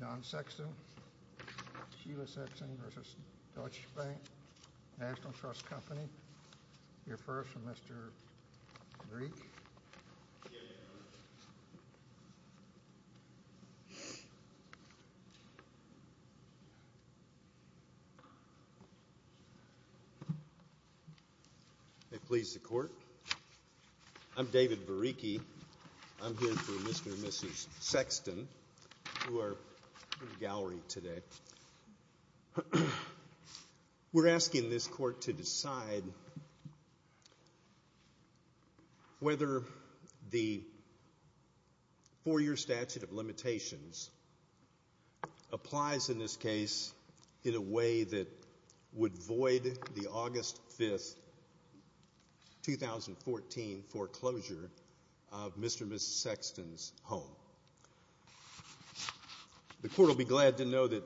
John Sexton, Sheila Sexton v. Deutsche Bank National Trust Company, your first, Mr. Greek. I'm here for Mr. and Mrs. Sexton, who are in the gallery today. We're asking this court to decide whether the four-year statute of limitations applies in this case in a way that would void the August 5, 2014, foreclosure of Mr. and Mrs. Sexton's home. The court will be glad to know that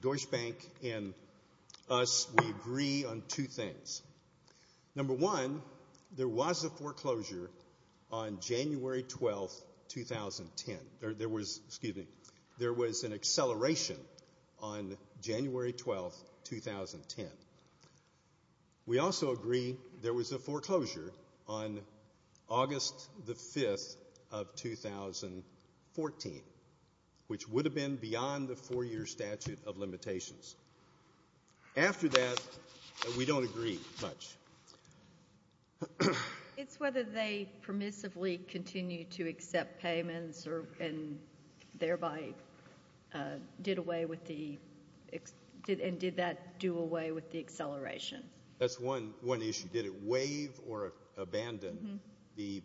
Deutsche Bank and us, we agree on two things. 14, which would have been beyond the four-year statute of limitations. After that, we don't agree much. It's whether they permissively continue to accept payments and thereby did away with the – and did that do away with the acceleration. That's one issue. Did it waive or abandon the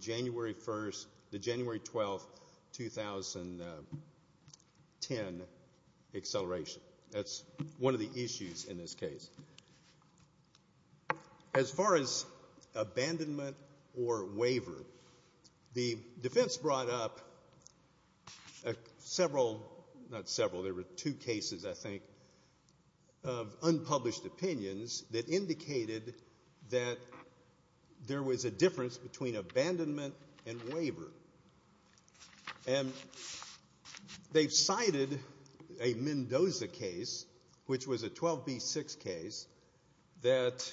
January 1, the January 12, 2010 acceleration? That's one of the issues in this case. As far as abandonment or waiver, the defense brought up several – not several. There were two cases, I think, of unpublished opinions that indicated that there was a difference between abandonment and waiver. And they've cited a Mendoza case, which was a 12B6 case, that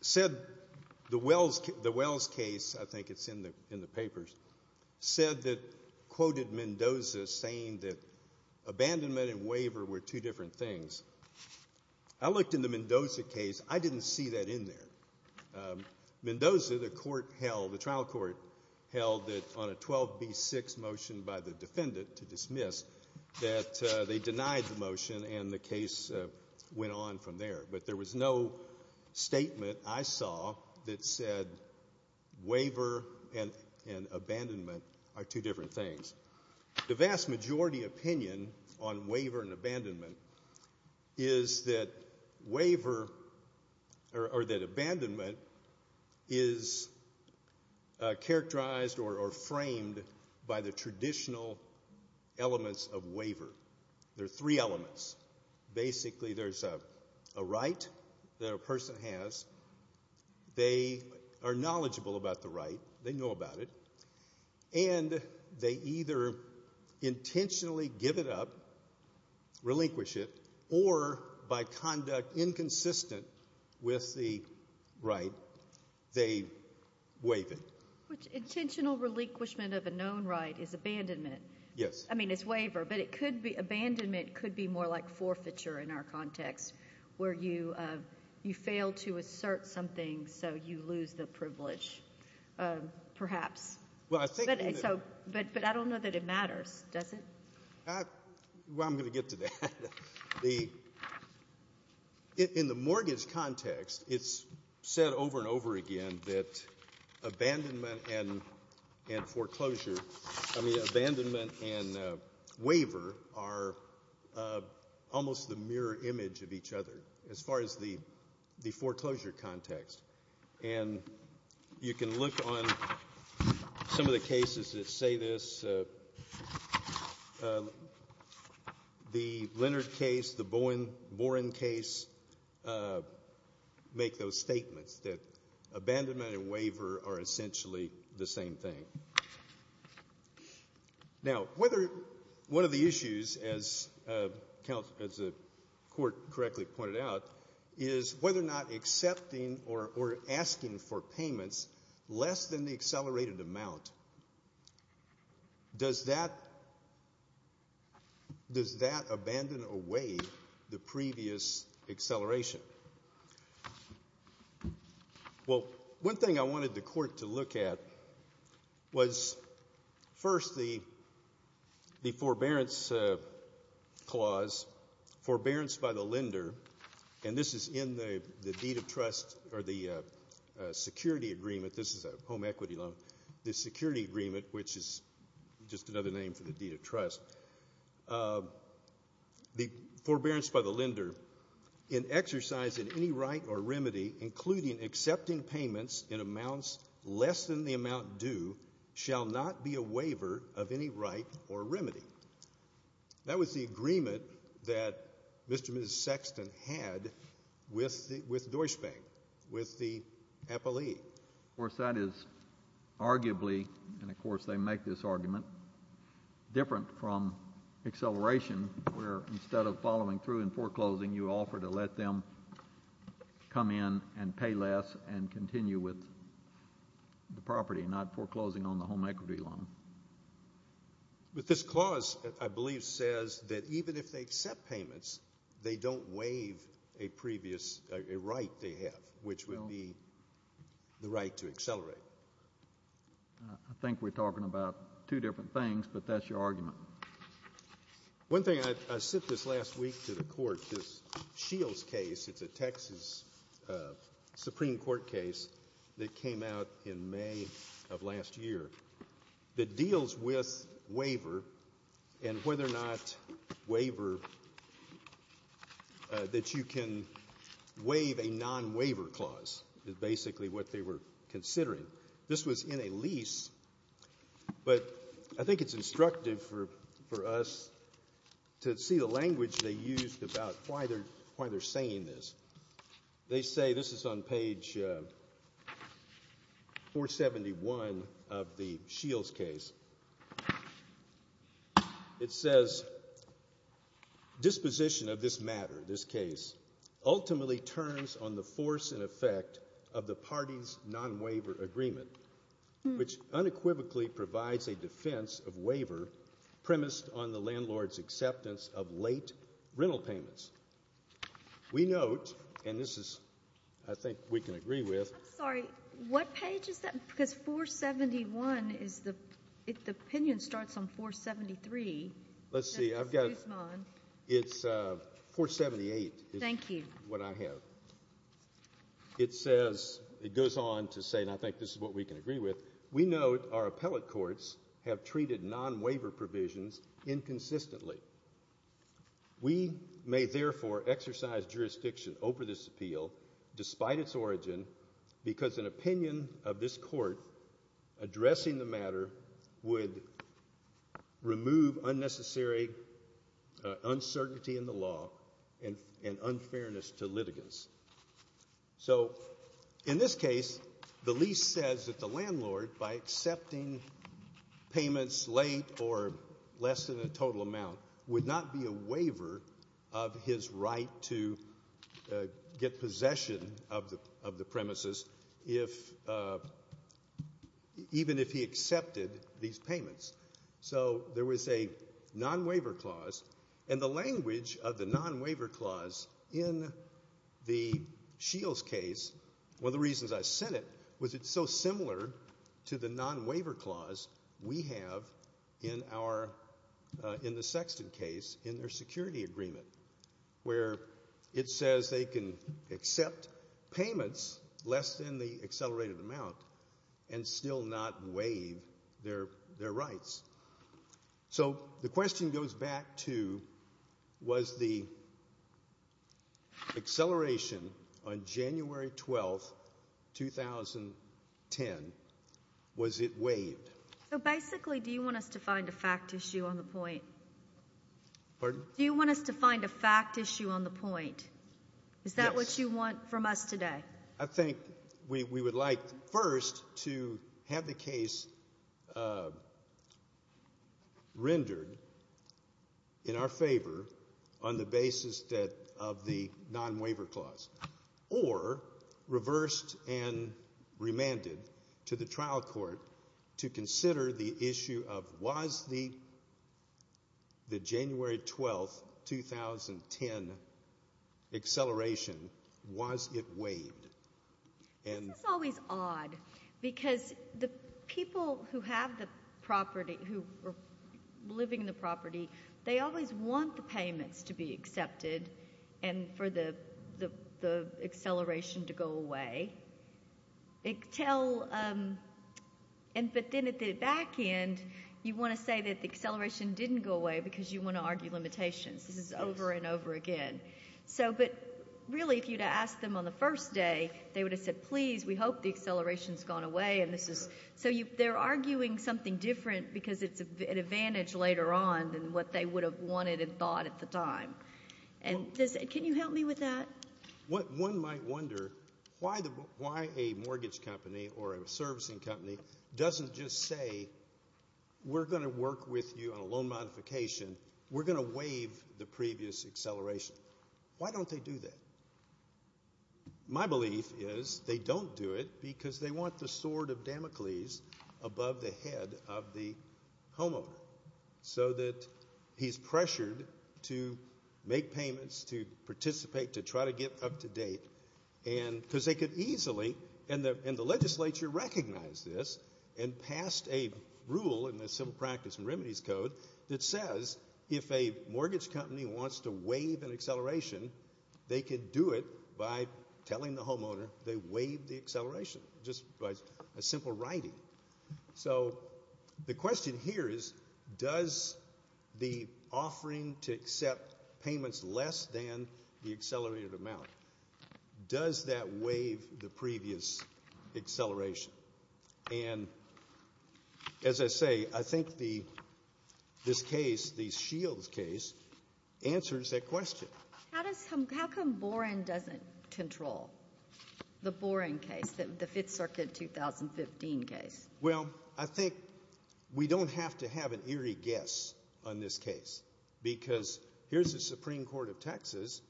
said the Wells case – I think it's in the papers – said that – quoted Mendoza saying that abandonment and waiver were two different things. I looked in the Mendoza case. I didn't see that in there. Mendoza, the court held – the trial court held it on a 12B6 motion by the defendant to dismiss that they denied the motion and the case went on from there. But there was no statement I saw that said waiver and abandonment are two different things. The vast majority opinion on waiver and abandonment is that waiver – or that abandonment is characterized or framed by the traditional elements of waiver. There are three elements. Basically, there's a right that a person has. They are knowledgeable about the right. They know about it. And they either intentionally give it up, relinquish it, or by conduct inconsistent with the right, they waive it. Which intentional relinquishment of a known right is abandonment. Yes. I mean, it's waiver. But it could be – abandonment could be more like forfeiture in our context, where you fail to assert something so you lose the privilege, perhaps. But I don't know that it matters, does it? Well, I'm going to get to that. In the mortgage context, it's said over and over again that abandonment and foreclosure – I mean, abandonment and waiver are almost the mirror image of each other as far as the foreclosure context. And you can look on some of the cases that say this. The Leonard case, the Boren case, make those statements that abandonment and waiver are essentially the same thing. Now, whether – one of the issues, as the court correctly pointed out, is whether or not accepting or asking for payments less than the accelerated amount, does that abandon or waive the previous acceleration? Well, one thing I wanted the court to look at was first the forbearance clause, forbearance by the lender – and this is in the deed of trust or the security agreement. This is a home equity loan. The security agreement, which is just another name for the deed of trust. The forbearance by the lender in exercising any right or remedy, including accepting payments in amounts less than the amount due, shall not be a waiver of any right or remedy. That was the agreement that Mr. and Mrs. Sexton had with Deutsche Bank, with the appellee. Of course, that is arguably – and, of course, they make this argument – different from acceleration, where instead of following through in foreclosing, you offer to let them come in and pay less and continue with the property, not foreclosing on the home equity loan. But this clause, I believe, says that even if they accept payments, they don't waive a previous – a right they have, which would be the right to accelerate. I think we're talking about two different things, but that's your argument. One thing – I sent this last week to the court, this Shields case. It's a Texas Supreme Court case that came out in May of last year that deals with waiver and whether or not waiver – that you can waive a non-waiver clause is basically what they were considering. This was in a lease, but I think it's instructive for us to see the language they used about why they're saying this. They say – this is on page 471 of the Shields case. It says, disposition of this matter, this case, ultimately turns on the force and effect of the party's non-waiver agreement, which unequivocally provides a defense of waiver premised on the landlord's acceptance of late rental payments. We note – and this is, I think, we can agree with. I'm sorry. What page is that? Because 471 is the – the opinion starts on 473. Let's see. It's 478. Thank you. It's what I have. It says – it goes on to say, and I think this is what we can agree with, we note our appellate courts have treated non-waiver provisions inconsistently. We may therefore exercise jurisdiction over this appeal despite its origin because an opinion of this court addressing the matter would remove unnecessary uncertainty in the law and unfairness to litigants. So in this case, the lease says that the landlord, by accepting payments late or less than a total amount, would not be a waiver of his right to get possession of the premises if – even if he accepted these payments. So there was a non-waiver clause, and the language of the non-waiver clause in the Shields case – one of the reasons I sent it was it's so similar to the non-waiver clause we have in our – in the Sexton case in their security agreement where it says they can accept payments less than the accelerated amount and still not waive their rights. So the question goes back to was the acceleration on January 12, 2010, was it waived? So basically do you want us to find a fact issue on the point? Pardon? Do you want us to find a fact issue on the point? Yes. Is that what you want from us today? I think we would like first to have the case rendered in our favor on the basis of the non-waiver clause or reversed and remanded to the trial court to consider the issue of was the January 12, 2010, acceleration – was it waived? This is always odd because the people who have the property – who are living in the property, they always want the payments to be accepted and for the acceleration to go away. Until – but then at the back end you want to say that the acceleration didn't go away because you want to argue limitations. This is over and over again. But really if you had asked them on the first day, they would have said, please, we hope the acceleration has gone away. So they're arguing something different because it's an advantage later on than what they would have wanted and thought at the time. Can you help me with that? One might wonder why a mortgage company or a servicing company doesn't just say we're going to work with you on a loan modification. We're going to waive the previous acceleration. Why don't they do that? My belief is they don't do it because they want the sword of Damocles above the head of the homeowner so that he's pressured to make payments, to participate, to try to get up to date. Because they could easily – and the legislature recognized this and passed a rule in the Civil Practice and Remedies Code that says if a mortgage company wants to waive an acceleration, they could do it by telling the homeowner they waived the acceleration just by a simple writing. So the question here is does the offering to accept payments less than the accelerated amount, does that waive the previous acceleration? And as I say, I think this case, the Shields case, answers that question. How does – how come Boren doesn't control the Boren case, the Fifth Circuit 2015 case? Well, I think we don't have to have an eerie guess on this case because here's the Supreme Court of Texas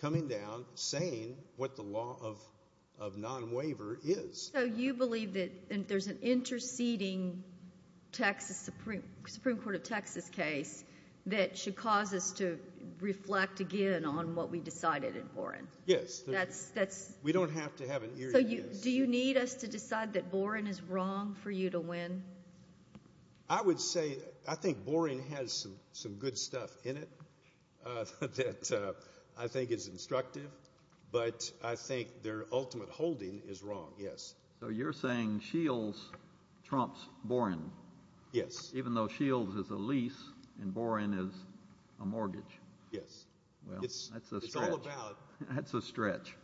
coming down saying what the law of non-waiver is. So you believe that there's an interceding Texas – Supreme Court of Texas case that should cause us to reflect again on what we decided in Boren? Yes. That's – We don't have to have an eerie guess. So do you need us to decide that Boren is wrong for you to win? I would say – I think Boren has some good stuff in it that I think is instructive, but I think their ultimate holding is wrong, yes. So you're saying Shields trumps Boren? Yes. Even though Shields is a lease and Boren is a mortgage? Yes. Well, that's a stretch. It's all about – That's a stretch.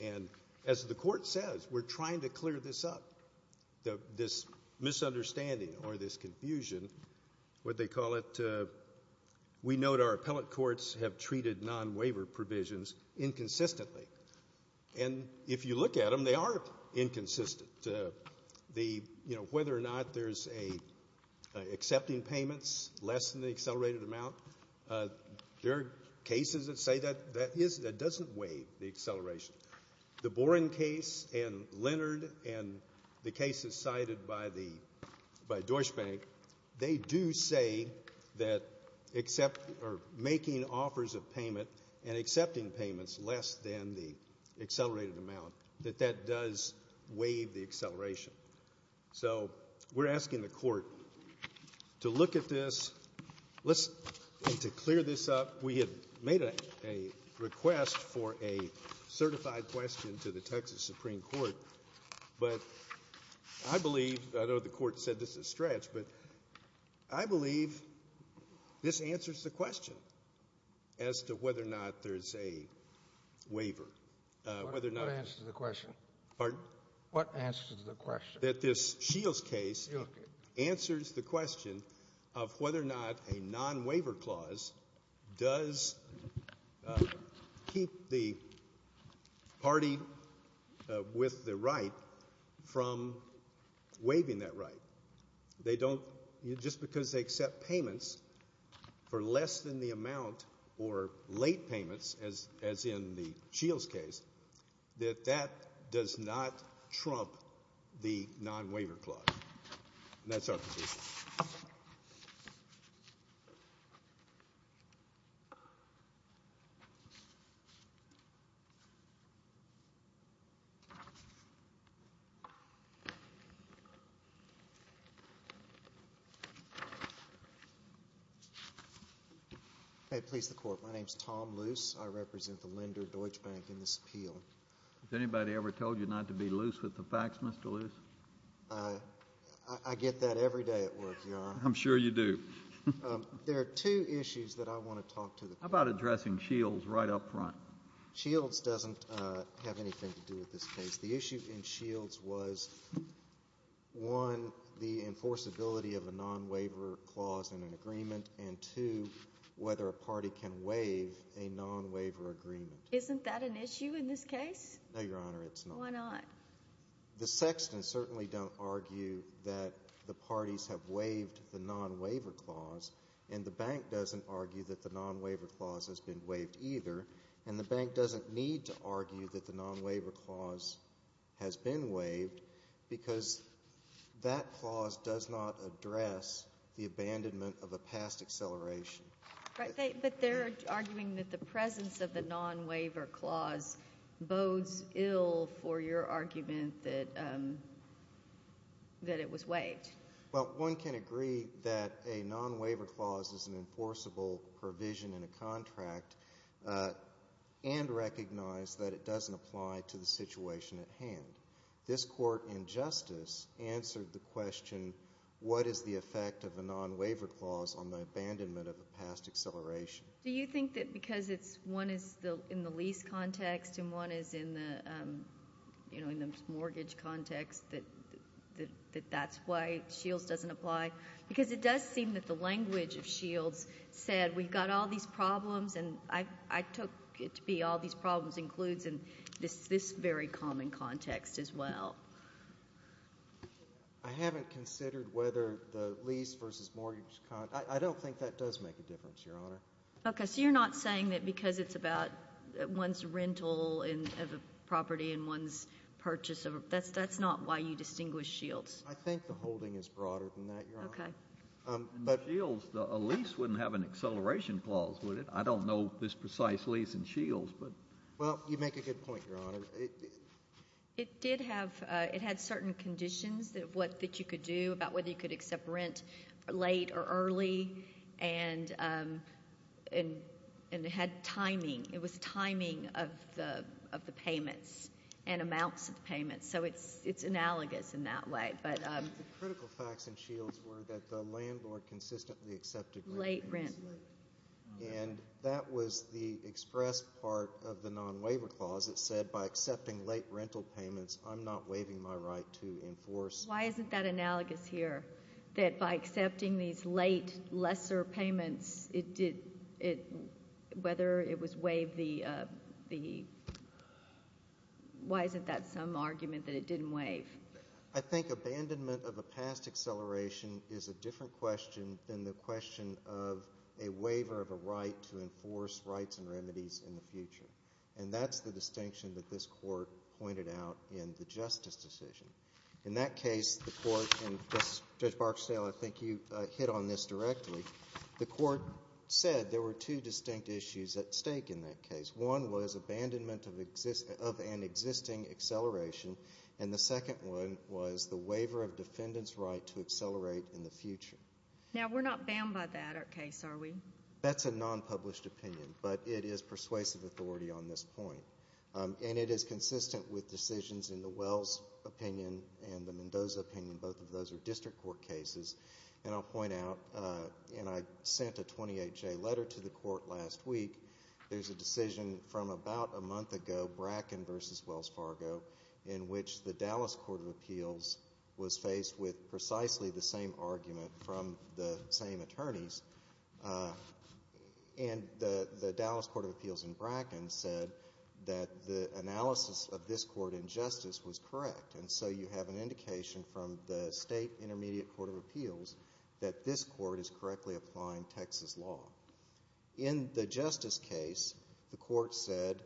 And as the court says, we're trying to clear this up, this misunderstanding or this confusion, what they call it. We note our appellate courts have treated non-waiver provisions inconsistently. And if you look at them, they are inconsistent. Whether or not there's accepting payments less than the accelerated amount, there are cases that say that doesn't waive the acceleration. The Boren case and Leonard and the cases cited by Deutsche Bank, they do say that making offers of payment and accepting payments less than the accelerated amount, that that does waive the acceleration. So we're asking the court to look at this and to clear this up. We had made a request for a certified question to the Texas Supreme Court, but I believe – I know the court said this is a stretch, but I believe this answers the question as to whether or not there's a waiver, whether or not – What answers the question? Pardon? What answers the question? That this Shields case answers the question of whether or not a non-waiver clause does keep the party with the right from waiving that right. They don't – just because they accept payments for less than the amount or late payments, as in the Shields case, that that does not trump the non-waiver clause. And that's our position. May it please the Court. My name is Tom Luce. I represent the lender, Deutsche Bank, in this appeal. Has anybody ever told you not to be loose with the facts, Mr. Luce? I get that every day at work, Your Honor. I'm sure you do. There are two issues that I want to talk to the court about. How about addressing Shields right up front? Shields doesn't have anything to do with this case. The issue in Shields was, one, the enforceability of a non-waiver clause in an agreement, and, two, whether a party can waive a non-waiver agreement. Isn't that an issue in this case? No, Your Honor, it's not. Why not? The Sextons certainly don't argue that the parties have waived the non-waiver clause, and the bank doesn't argue that the non-waiver clause has been waived either. And the bank doesn't need to argue that the non-waiver clause has been waived because that clause does not address the abandonment of a past acceleration. But they're arguing that the presence of the non-waiver clause bodes ill for your argument that it was waived. Well, one can agree that a non-waiver clause is an enforceable provision in a contract and recognize that it doesn't apply to the situation at hand. This Court in Justice answered the question, what is the effect of a non-waiver clause on the abandonment of a past acceleration? Do you think that because one is in the lease context and one is in the mortgage context that that's why Shields doesn't apply? Because it does seem that the language of Shields said we've got all these problems and I took it to be all these problems includes in this very common context as well. I haven't considered whether the lease versus mortgage, I don't think that does make a difference, Your Honor. Okay, so you're not saying that because it's about one's rental of a property and one's purchase, that's not why you distinguish Shields? I think the holding is broader than that, Your Honor. Okay. In Shields, a lease wouldn't have an acceleration clause, would it? I don't know this precise lease in Shields. Well, you make a good point, Your Honor. It did have certain conditions that you could do about whether you could accept rent late or early and it had timing. It had timing of the payments and amounts of the payments, so it's analogous in that way. The critical facts in Shields were that the landlord consistently accepted late rent. Late rent. And that was the express part of the non-waiver clause. It said by accepting late rental payments, I'm not waiving my right to enforce. Why isn't that analogous here, that by accepting these late, lesser payments, whether it was waived, why isn't that some argument that it didn't waive? I think abandonment of a past acceleration is a different question than the question of a waiver of a right to enforce rights and remedies in the future. And that's the distinction that this court pointed out in the justice decision. In that case, the court, and Judge Barksdale, I think you hit on this directly, the court said there were two distinct issues at stake in that case. One was abandonment of an existing acceleration, and the second one was the waiver of defendant's right to accelerate in the future. Now, we're not bound by that case, are we? That's a non-published opinion, but it is persuasive authority on this point. And it is consistent with decisions in the Wells opinion and the Mendoza opinion. Both of those are district court cases. And I'll point out, and I sent a 28-J letter to the court last week, there's a decision from about a month ago, Bracken v. Wells Fargo, in which the Dallas Court of Appeals was faced with precisely the same argument from the same attorneys. And the Dallas Court of Appeals in Bracken said that the analysis of this court in justice was correct. And so you have an indication from the State Intermediate Court of Appeals that this court is correctly applying Texas law. In the justice case, the court said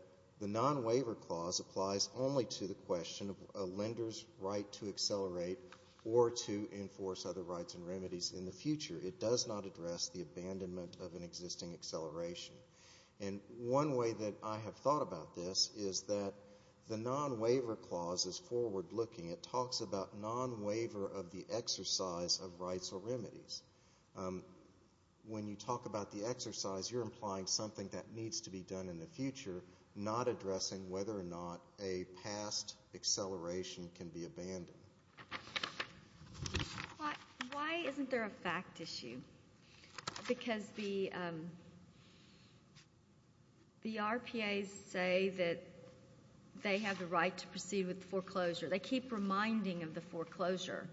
the non-waiver clause applies only to the question of a lender's right to accelerate or to enforce other rights and remedies in the future. It does not address the abandonment of an existing acceleration. And one way that I have thought about this is that the non-waiver clause is forward-looking. It talks about non-waiver of the exercise of rights or remedies. When you talk about the exercise, you're implying something that needs to be done in the future, not addressing whether or not a past acceleration can be abandoned. Why isn't there a fact issue? Because the RPAs say that they have the right to proceed with foreclosure. They keep reminding of the foreclosure,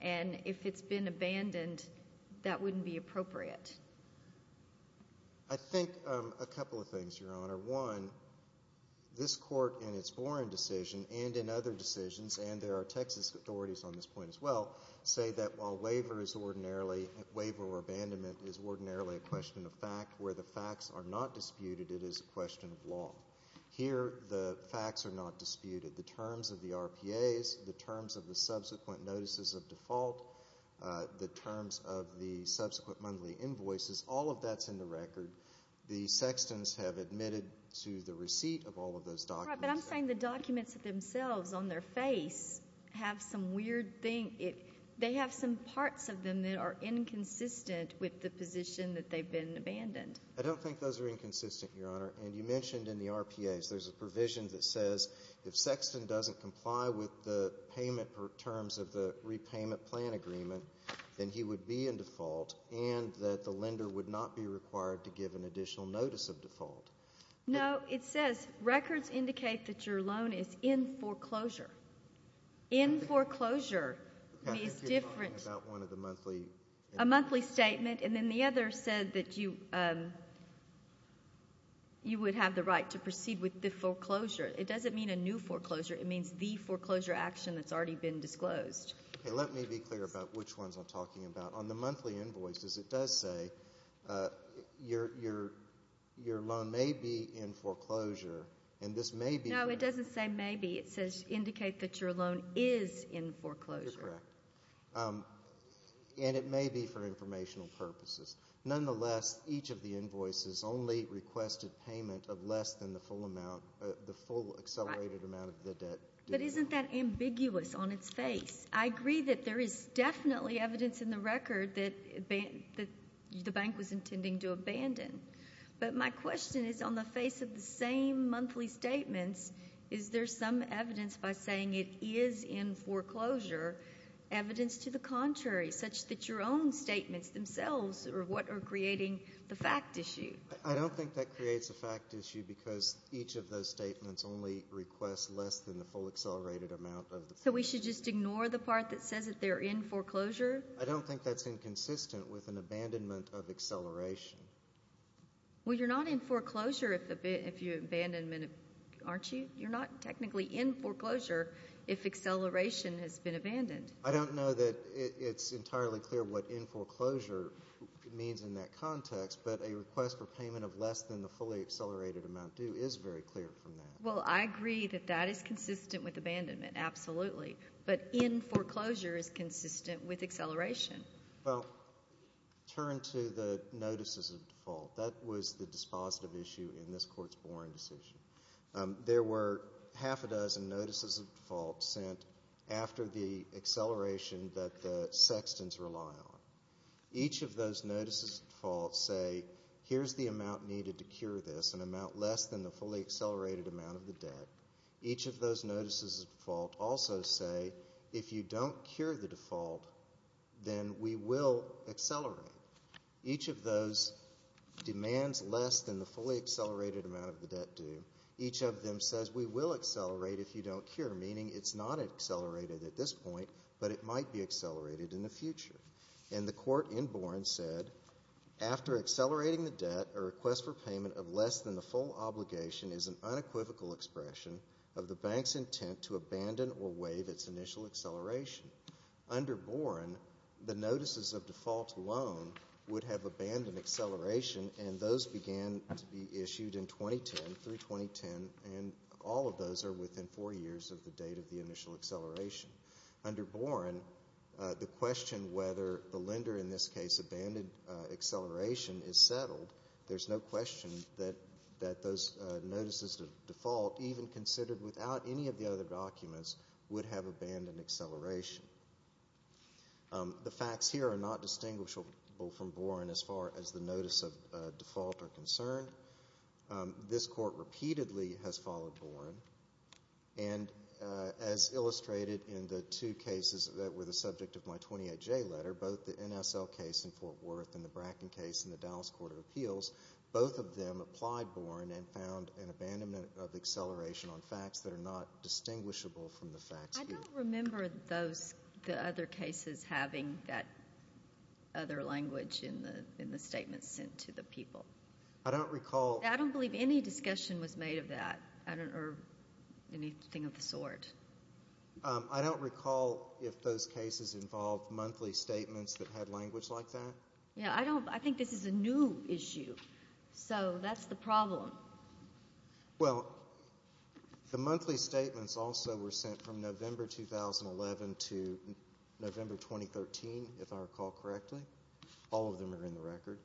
and if it's been abandoned, that wouldn't be appropriate. I think a couple of things, Your Honor. One, this court in its Boren decision and in other decisions, and there are Texas authorities on this point as well, say that while waiver or abandonment is ordinarily a question of fact, where the facts are not disputed, it is a question of law. Here, the facts are not disputed. The terms of the RPAs, the terms of the subsequent notices of default, the terms of the subsequent monthly invoices, all of that's in the record. The Sextons have admitted to the receipt of all of those documents. Right, but I'm saying the documents themselves on their face have some weird thing. They have some parts of them that are inconsistent with the position that they've been abandoned. I don't think those are inconsistent, Your Honor. And you mentioned in the RPAs there's a provision that says if Sexton doesn't comply with the payment terms of the repayment plan agreement, then he would be in default and that the lender would not be required to give an additional notice of default. No, it says records indicate that your loan is in foreclosure. In foreclosure is different. I think you're talking about one of the monthly. A monthly statement, and then the other said that you would have the right to proceed with the foreclosure. It doesn't mean a new foreclosure. It means the foreclosure action that's already been disclosed. Let me be clear about which ones I'm talking about. On the monthly invoices, it does say your loan may be in foreclosure, and this may be. No, it doesn't say maybe. It says indicate that your loan is in foreclosure. You're correct. And it may be for informational purposes. Nonetheless, each of the invoices only requested payment of less than the full amount, the full accelerated amount of the debt. But isn't that ambiguous on its face? I agree that there is definitely evidence in the record that the bank was intending to abandon. But my question is, on the face of the same monthly statements, is there some evidence by saying it is in foreclosure, evidence to the contrary, such that your own statements themselves are what are creating the fact issue? I don't think that creates a fact issue because each of those statements only requests less than the full accelerated amount. So we should just ignore the part that says that they're in foreclosure? I don't think that's inconsistent with an abandonment of acceleration. Well, you're not in foreclosure if you abandonment, aren't you? You're not technically in foreclosure if acceleration has been abandoned. I don't know that it's entirely clear what in foreclosure means in that context, but a request for payment of less than the fully accelerated amount due is very clear from that. Well, I agree that that is consistent with abandonment, absolutely. But in foreclosure is consistent with acceleration. Well, turn to the notices of default. That was the dispositive issue in this Court's Boren decision. There were half a dozen notices of default sent after the acceleration that the sextons rely on. Each of those notices of default say here's the amount needed to cure this, an amount less than the fully accelerated amount of the debt. Each of those notices of default also say if you don't cure the default, then we will accelerate. Each of those demands less than the fully accelerated amount of the debt due. Each of them says we will accelerate if you don't cure, meaning it's not accelerated at this point, but it might be accelerated in the future. And the Court in Boren said, after accelerating the debt, a request for payment of less than the full obligation is an unequivocal expression of the bank's intent to abandon or waive its initial acceleration. Under Boren, the notices of default alone would have abandoned acceleration, and those began to be issued in 2010, through 2010, and all of those are within four years of the date of the initial acceleration. Under Boren, the question whether the lender in this case abandoned acceleration is settled, there's no question that those notices of default, even considered without any of the other documents, would have abandoned acceleration. The facts here are not distinguishable from Boren as far as the notices of default are concerned. This Court repeatedly has followed Boren, and as illustrated in the two cases that were the subject of my 28-J letter, both the NSL case in Fort Worth and the Bracken case in the Dallas Court of Appeals, both of them applied Boren and found an abandonment of acceleration on facts that are not distinguishable from the facts here. I don't remember the other cases having that other language in the statements sent to the people. I don't recall. I don't believe any discussion was made of that or anything of the sort. I don't recall if those cases involved monthly statements that had language like that. Yeah, I think this is a new issue, so that's the problem. Well, the monthly statements also were sent from November 2011 to November 2013, if I recall correctly. All of them are in the record.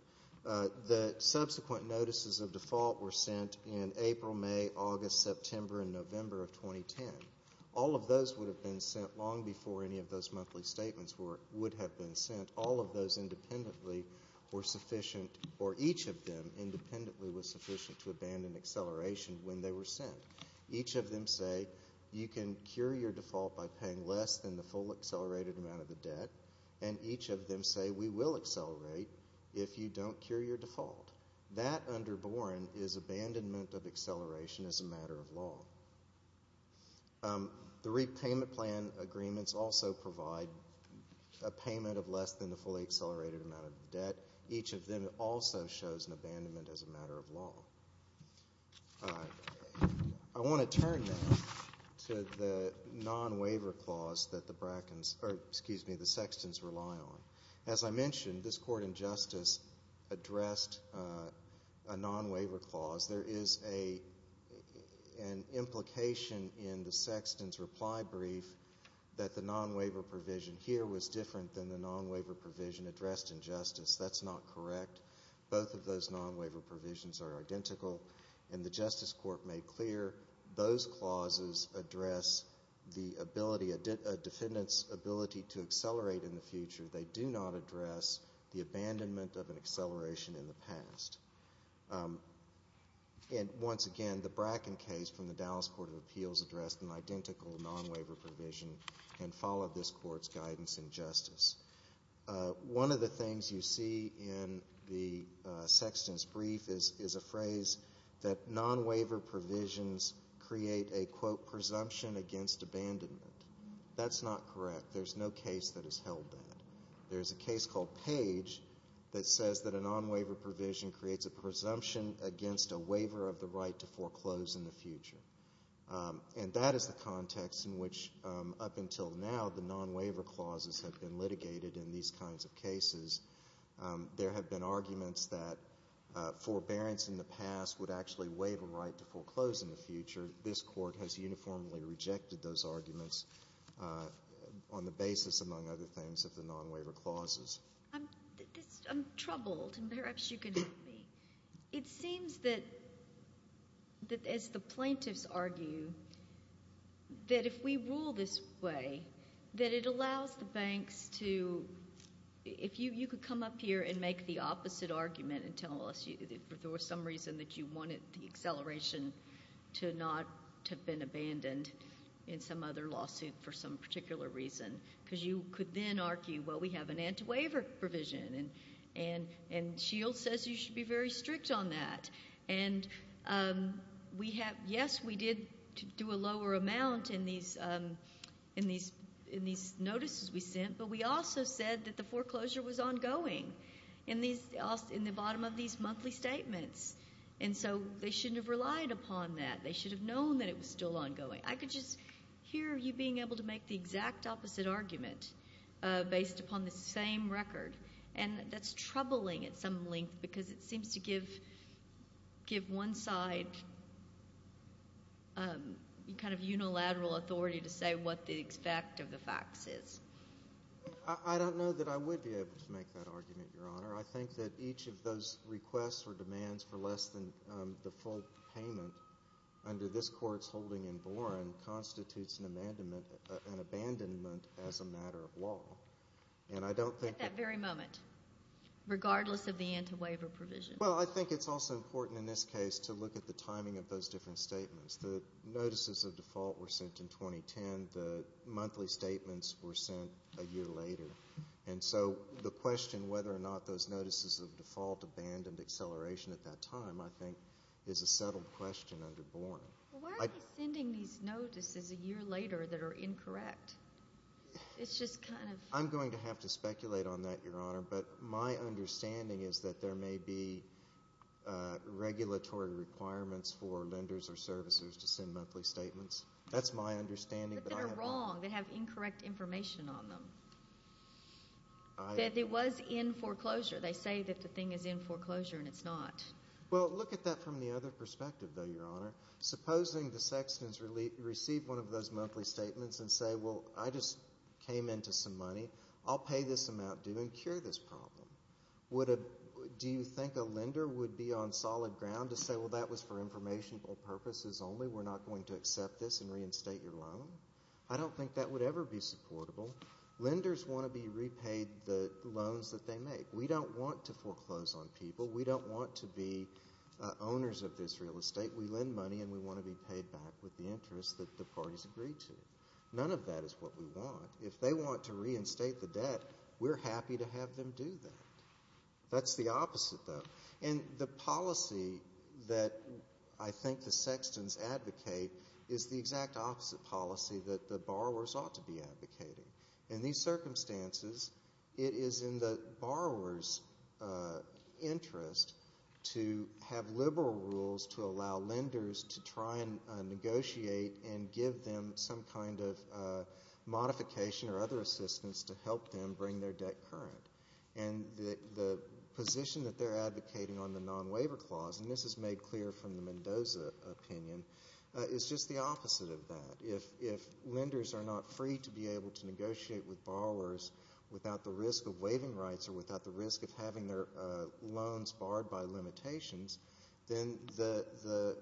The subsequent notices of default were sent in April, May, August, September, and November of 2010. All of those would have been sent long before any of those monthly statements would have been sent. All of those independently were sufficient, or each of them independently was sufficient to abandon acceleration when they were sent. Each of them say you can cure your default by paying less than the full accelerated amount of the debt, and each of them say we will accelerate if you don't cure your default. That, under Boren, is abandonment of acceleration as a matter of law. The repayment plan agreements also provide a payment of less than the fully accelerated amount of the debt. Each of them also shows an abandonment as a matter of law. I want to turn now to the non-waiver clause that the Sexton's rely on. As I mentioned, this court in justice addressed a non-waiver clause. There is an implication in the Sexton's reply brief that the non-waiver provision here was different than the non-waiver provision addressed in justice. That's not correct. Both of those non-waiver provisions are identical, and the justice court made clear those clauses address a defendant's ability to accelerate in the future. They do not address the abandonment of an acceleration in the past. Once again, the Bracken case from the Dallas Court of Appeals addressed an identical non-waiver provision and followed this court's guidance in justice. One of the things you see in the Sexton's brief is a phrase that non-waiver provisions create a, quote, presumption against abandonment. That's not correct. There's no case that has held that. There's a case called Page that says that a non-waiver provision creates a presumption against a waiver of the right to foreclose in the future. And that is the context in which, up until now, the non-waiver clauses have been litigated in these kinds of cases. There have been arguments that forbearance in the past would actually waive a right to foreclose in the future. This court has uniformly rejected those arguments on the basis, among other things, of the non-waiver clauses. I'm troubled, and perhaps you can help me. It seems that, as the plaintiffs argue, that if we rule this way, that it allows the banks to— if you could come up here and make the opposite argument and tell us there was some reason that you wanted the acceleration to not have been abandoned in some other lawsuit for some particular reason, because you could then argue, well, we have an anti-waiver provision, and S.H.I.E.L.D. says you should be very strict on that. And yes, we did do a lower amount in these notices we sent, but we also said that the foreclosure was ongoing in the bottom of these monthly statements, and so they shouldn't have relied upon that. They should have known that it was still ongoing. I could just hear you being able to make the exact opposite argument based upon the same record, and that's troubling at some length because it seems to give one side kind of unilateral authority to say what the effect of the facts is. I don't know that I would be able to make that argument, Your Honor. I think that each of those requests or demands for less than the full payment under this Court's holding in Boren constitutes an abandonment as a matter of law, and I don't think— At that very moment, regardless of the anti-waiver provision. Well, I think it's also important in this case to look at the timing of those different statements. The notices of default were sent in 2010. The monthly statements were sent a year later. And so the question whether or not those notices of default abandoned acceleration at that time, I think, is a settled question under Boren. Why are they sending these notices a year later that are incorrect? It's just kind of— I'm going to have to speculate on that, Your Honor, but my understanding is that there may be regulatory requirements for lenders or servicers to send monthly statements. That's my understanding. But they're wrong. They have incorrect information on them. That it was in foreclosure. They say that the thing is in foreclosure, and it's not. Well, look at that from the other perspective, though, Your Honor. Supposing the sextons receive one of those monthly statements and say, Well, I just came into some money. I'll pay this amount due and cure this problem. Do you think a lender would be on solid ground to say, Well, that was for informational purposes only. We're not going to accept this and reinstate your loan? I don't think that would ever be supportable. Lenders want to be repaid the loans that they make. We don't want to foreclose on people. We don't want to be owners of this real estate. We lend money, and we want to be paid back with the interest that the parties agreed to. None of that is what we want. If they want to reinstate the debt, we're happy to have them do that. That's the opposite, though. And the policy that I think the sextons advocate is the exact opposite policy that the borrowers ought to be advocating. In these circumstances, it is in the borrower's interest to have liberal rules to allow lenders to try and negotiate and give them some kind of modification or other assistance to help them bring their debt current. And the position that they're advocating on the non-waiver clause, and this is made clear from the Mendoza opinion, is just the opposite of that. If lenders are not free to be able to negotiate with borrowers without the risk of waiving rights or without the risk of having their loans barred by limitations, then the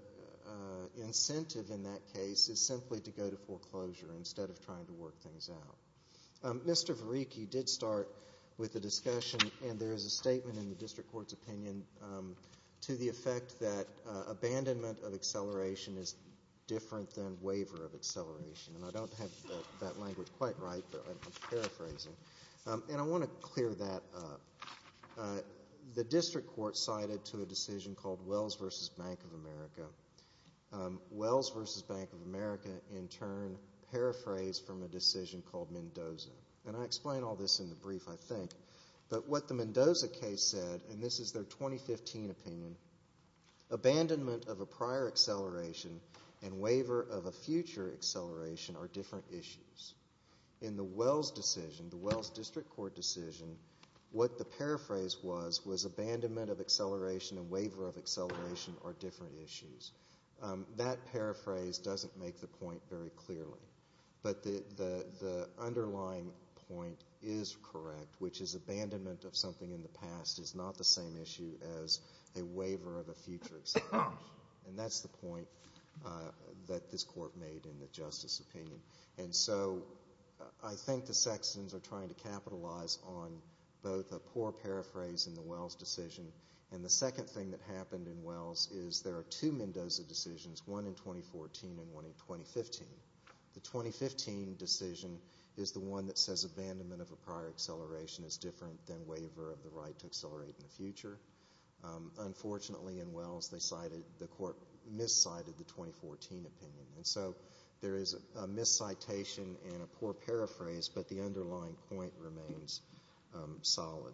incentive in that case is simply to go to foreclosure instead of trying to work things out. Mr. Varicki did start with a discussion, and there is a statement in the district court's opinion, to the effect that abandonment of acceleration is different than waiver of acceleration. And I don't have that language quite right, but I'm paraphrasing. And I want to clear that up. The district court cited to a decision called Wells v. Bank of America. Wells v. Bank of America, in turn, paraphrased from a decision called Mendoza. But what the Mendoza case said, and this is their 2015 opinion, abandonment of a prior acceleration and waiver of a future acceleration are different issues. In the Wells decision, the Wells district court decision, what the paraphrase was was abandonment of acceleration and waiver of acceleration are different issues. That paraphrase doesn't make the point very clearly. But the underlying point is correct, which is abandonment of something in the past is not the same issue as a waiver of a future acceleration. And that's the point that this court made in the justice opinion. And so I think the Saxons are trying to capitalize on both a poor paraphrase in the Wells decision and the second thing that happened in Wells is there are two Mendoza decisions, one in 2014 and one in 2015. The 2015 decision is the one that says abandonment of a prior acceleration is different than waiver of the right to accelerate in the future. Unfortunately, in Wells, the court miscited the 2014 opinion. And so there is a miscitation and a poor paraphrase, but the underlying point remains solid.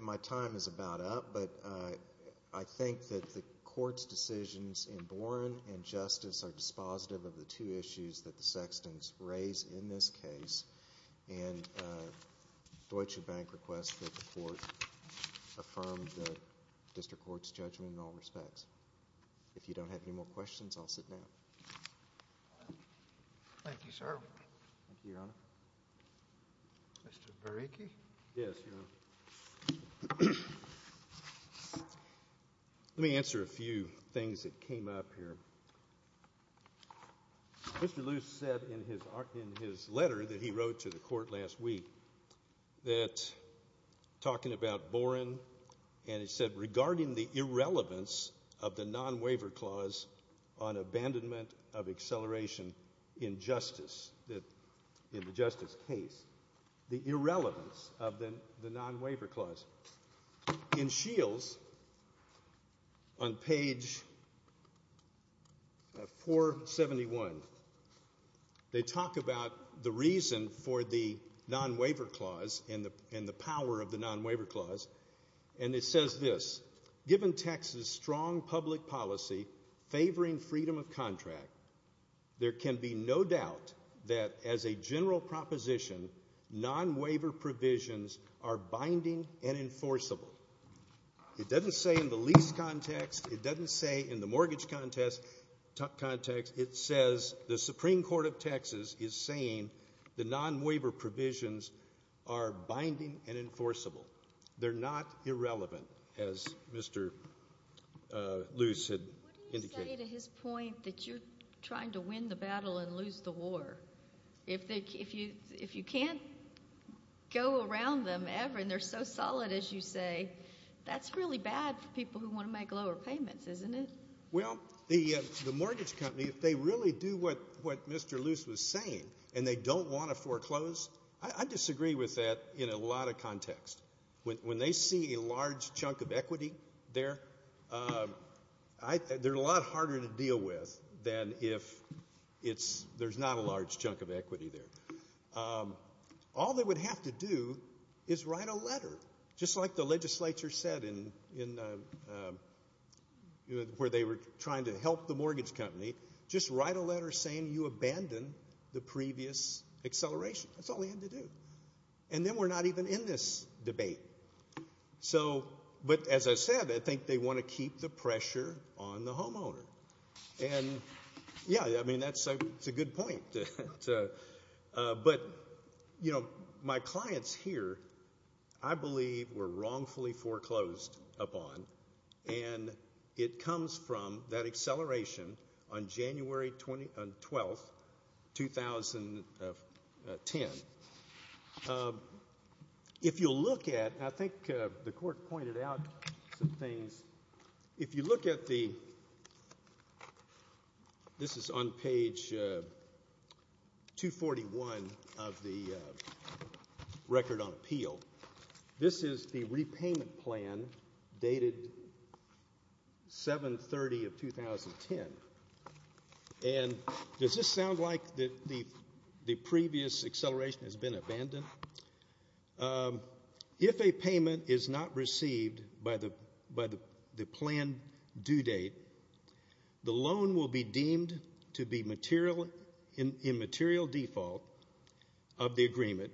My time is about up, but I think that the court's decisions in Boren and Justice are dispositive of the two issues that the Saxons raise in this case. And Deutsche Bank requests that the court affirm the district court's judgment in all respects. If you don't have any more questions, I'll sit down. Thank you, sir. Thank you, Your Honor. Mr. Bereke? Yes, Your Honor. Let me answer a few things that came up here. Mr. Luce said in his letter that he wrote to the court last week that talking about Boren and he said regarding the irrelevance of the non-waiver clause on abandonment of acceleration in justice, in the justice case, the irrelevance of the non-waiver clause. In Shields, on page 471, they talk about the reason for the non-waiver clause and the power of the non-waiver clause. And it says this, given Texas' strong public policy favoring freedom of contract, there can be no doubt that as a general proposition, non-waiver provisions are binding and enforceable. It doesn't say in the lease context. It doesn't say in the mortgage context. It says the Supreme Court of Texas is saying the non-waiver provisions are binding and enforceable. They're not irrelevant, as Mr. Luce had indicated. What do you say to his point that you're trying to win the battle and lose the war? If you can't go around them ever and they're so solid, as you say, that's really bad for people who want to make lower payments, isn't it? Well, the mortgage company, if they really do what Mr. Luce was saying and they don't want to foreclose, I disagree with that in a lot of contexts. When they see a large chunk of equity there, they're a lot harder to deal with than if there's not a large chunk of equity there. All they would have to do is write a letter, just like the legislature said where they were trying to help the mortgage company, just write a letter saying you abandoned the previous acceleration. That's all they had to do. And then we're not even in this debate. But as I said, I think they want to keep the pressure on the homeowner. And, yeah, I mean, that's a good point. But, you know, my clients here I believe were wrongfully foreclosed upon, and it comes from that acceleration on January 12, 2010. If you look at, and I think the court pointed out some things, if you look at the, this is on page 241 of the record on appeal, this is the repayment plan dated 7-30-2010. And does this sound like the previous acceleration has been abandoned? If a payment is not received by the planned due date, the loan will be deemed to be in material default of the agreement,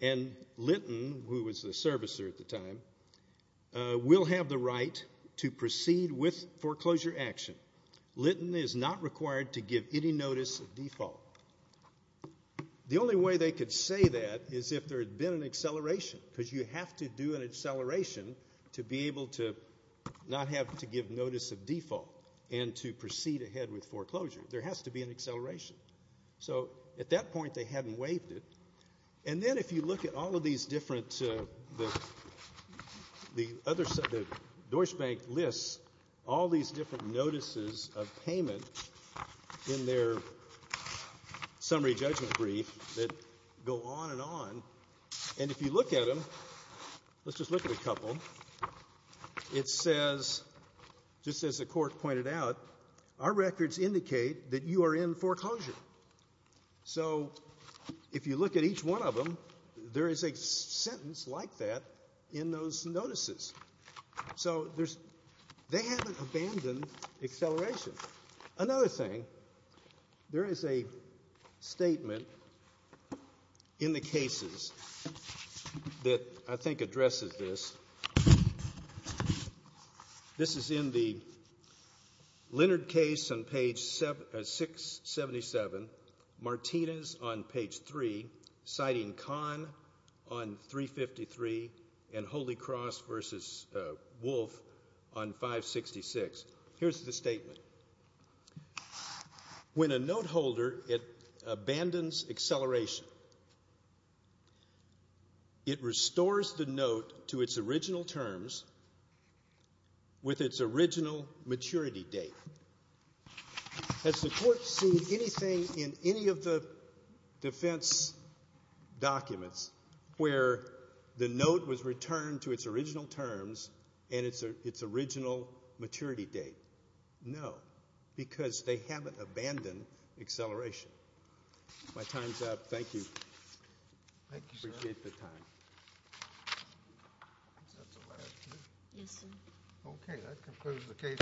and Litton, who was the servicer at the time, will have the right to proceed with foreclosure action. Litton is not required to give any notice of default. The only way they could say that is if there had been an acceleration, because you have to do an acceleration to be able to not have to give notice of default and to proceed ahead with foreclosure. There has to be an acceleration. So at that point they hadn't waived it. And then if you look at all of these different, the Deutsche Bank lists, all these different notices of payment in their summary judgment brief that go on and on, and if you look at them, let's just look at a couple, it says, just as the court pointed out, our records indicate that you are in foreclosure. So if you look at each one of them, there is a sentence like that in those notices. So they haven't abandoned acceleration. Another thing, there is a statement in the cases that I think addresses this. This is in the Leonard case on page 677, Martinez on page 3, citing Kahn on 353, and Holy Cross v. Wolf on 566. Here's the statement. When a note holder abandons acceleration, it restores the note to its original terms with its original maturity date. Has the court seen anything in any of the defense documents where the note was returned to its original terms and its original maturity date? No, because they haven't abandoned acceleration. My time's up. Thank you. I appreciate the time. Yes, sir. Okay, that concludes the case.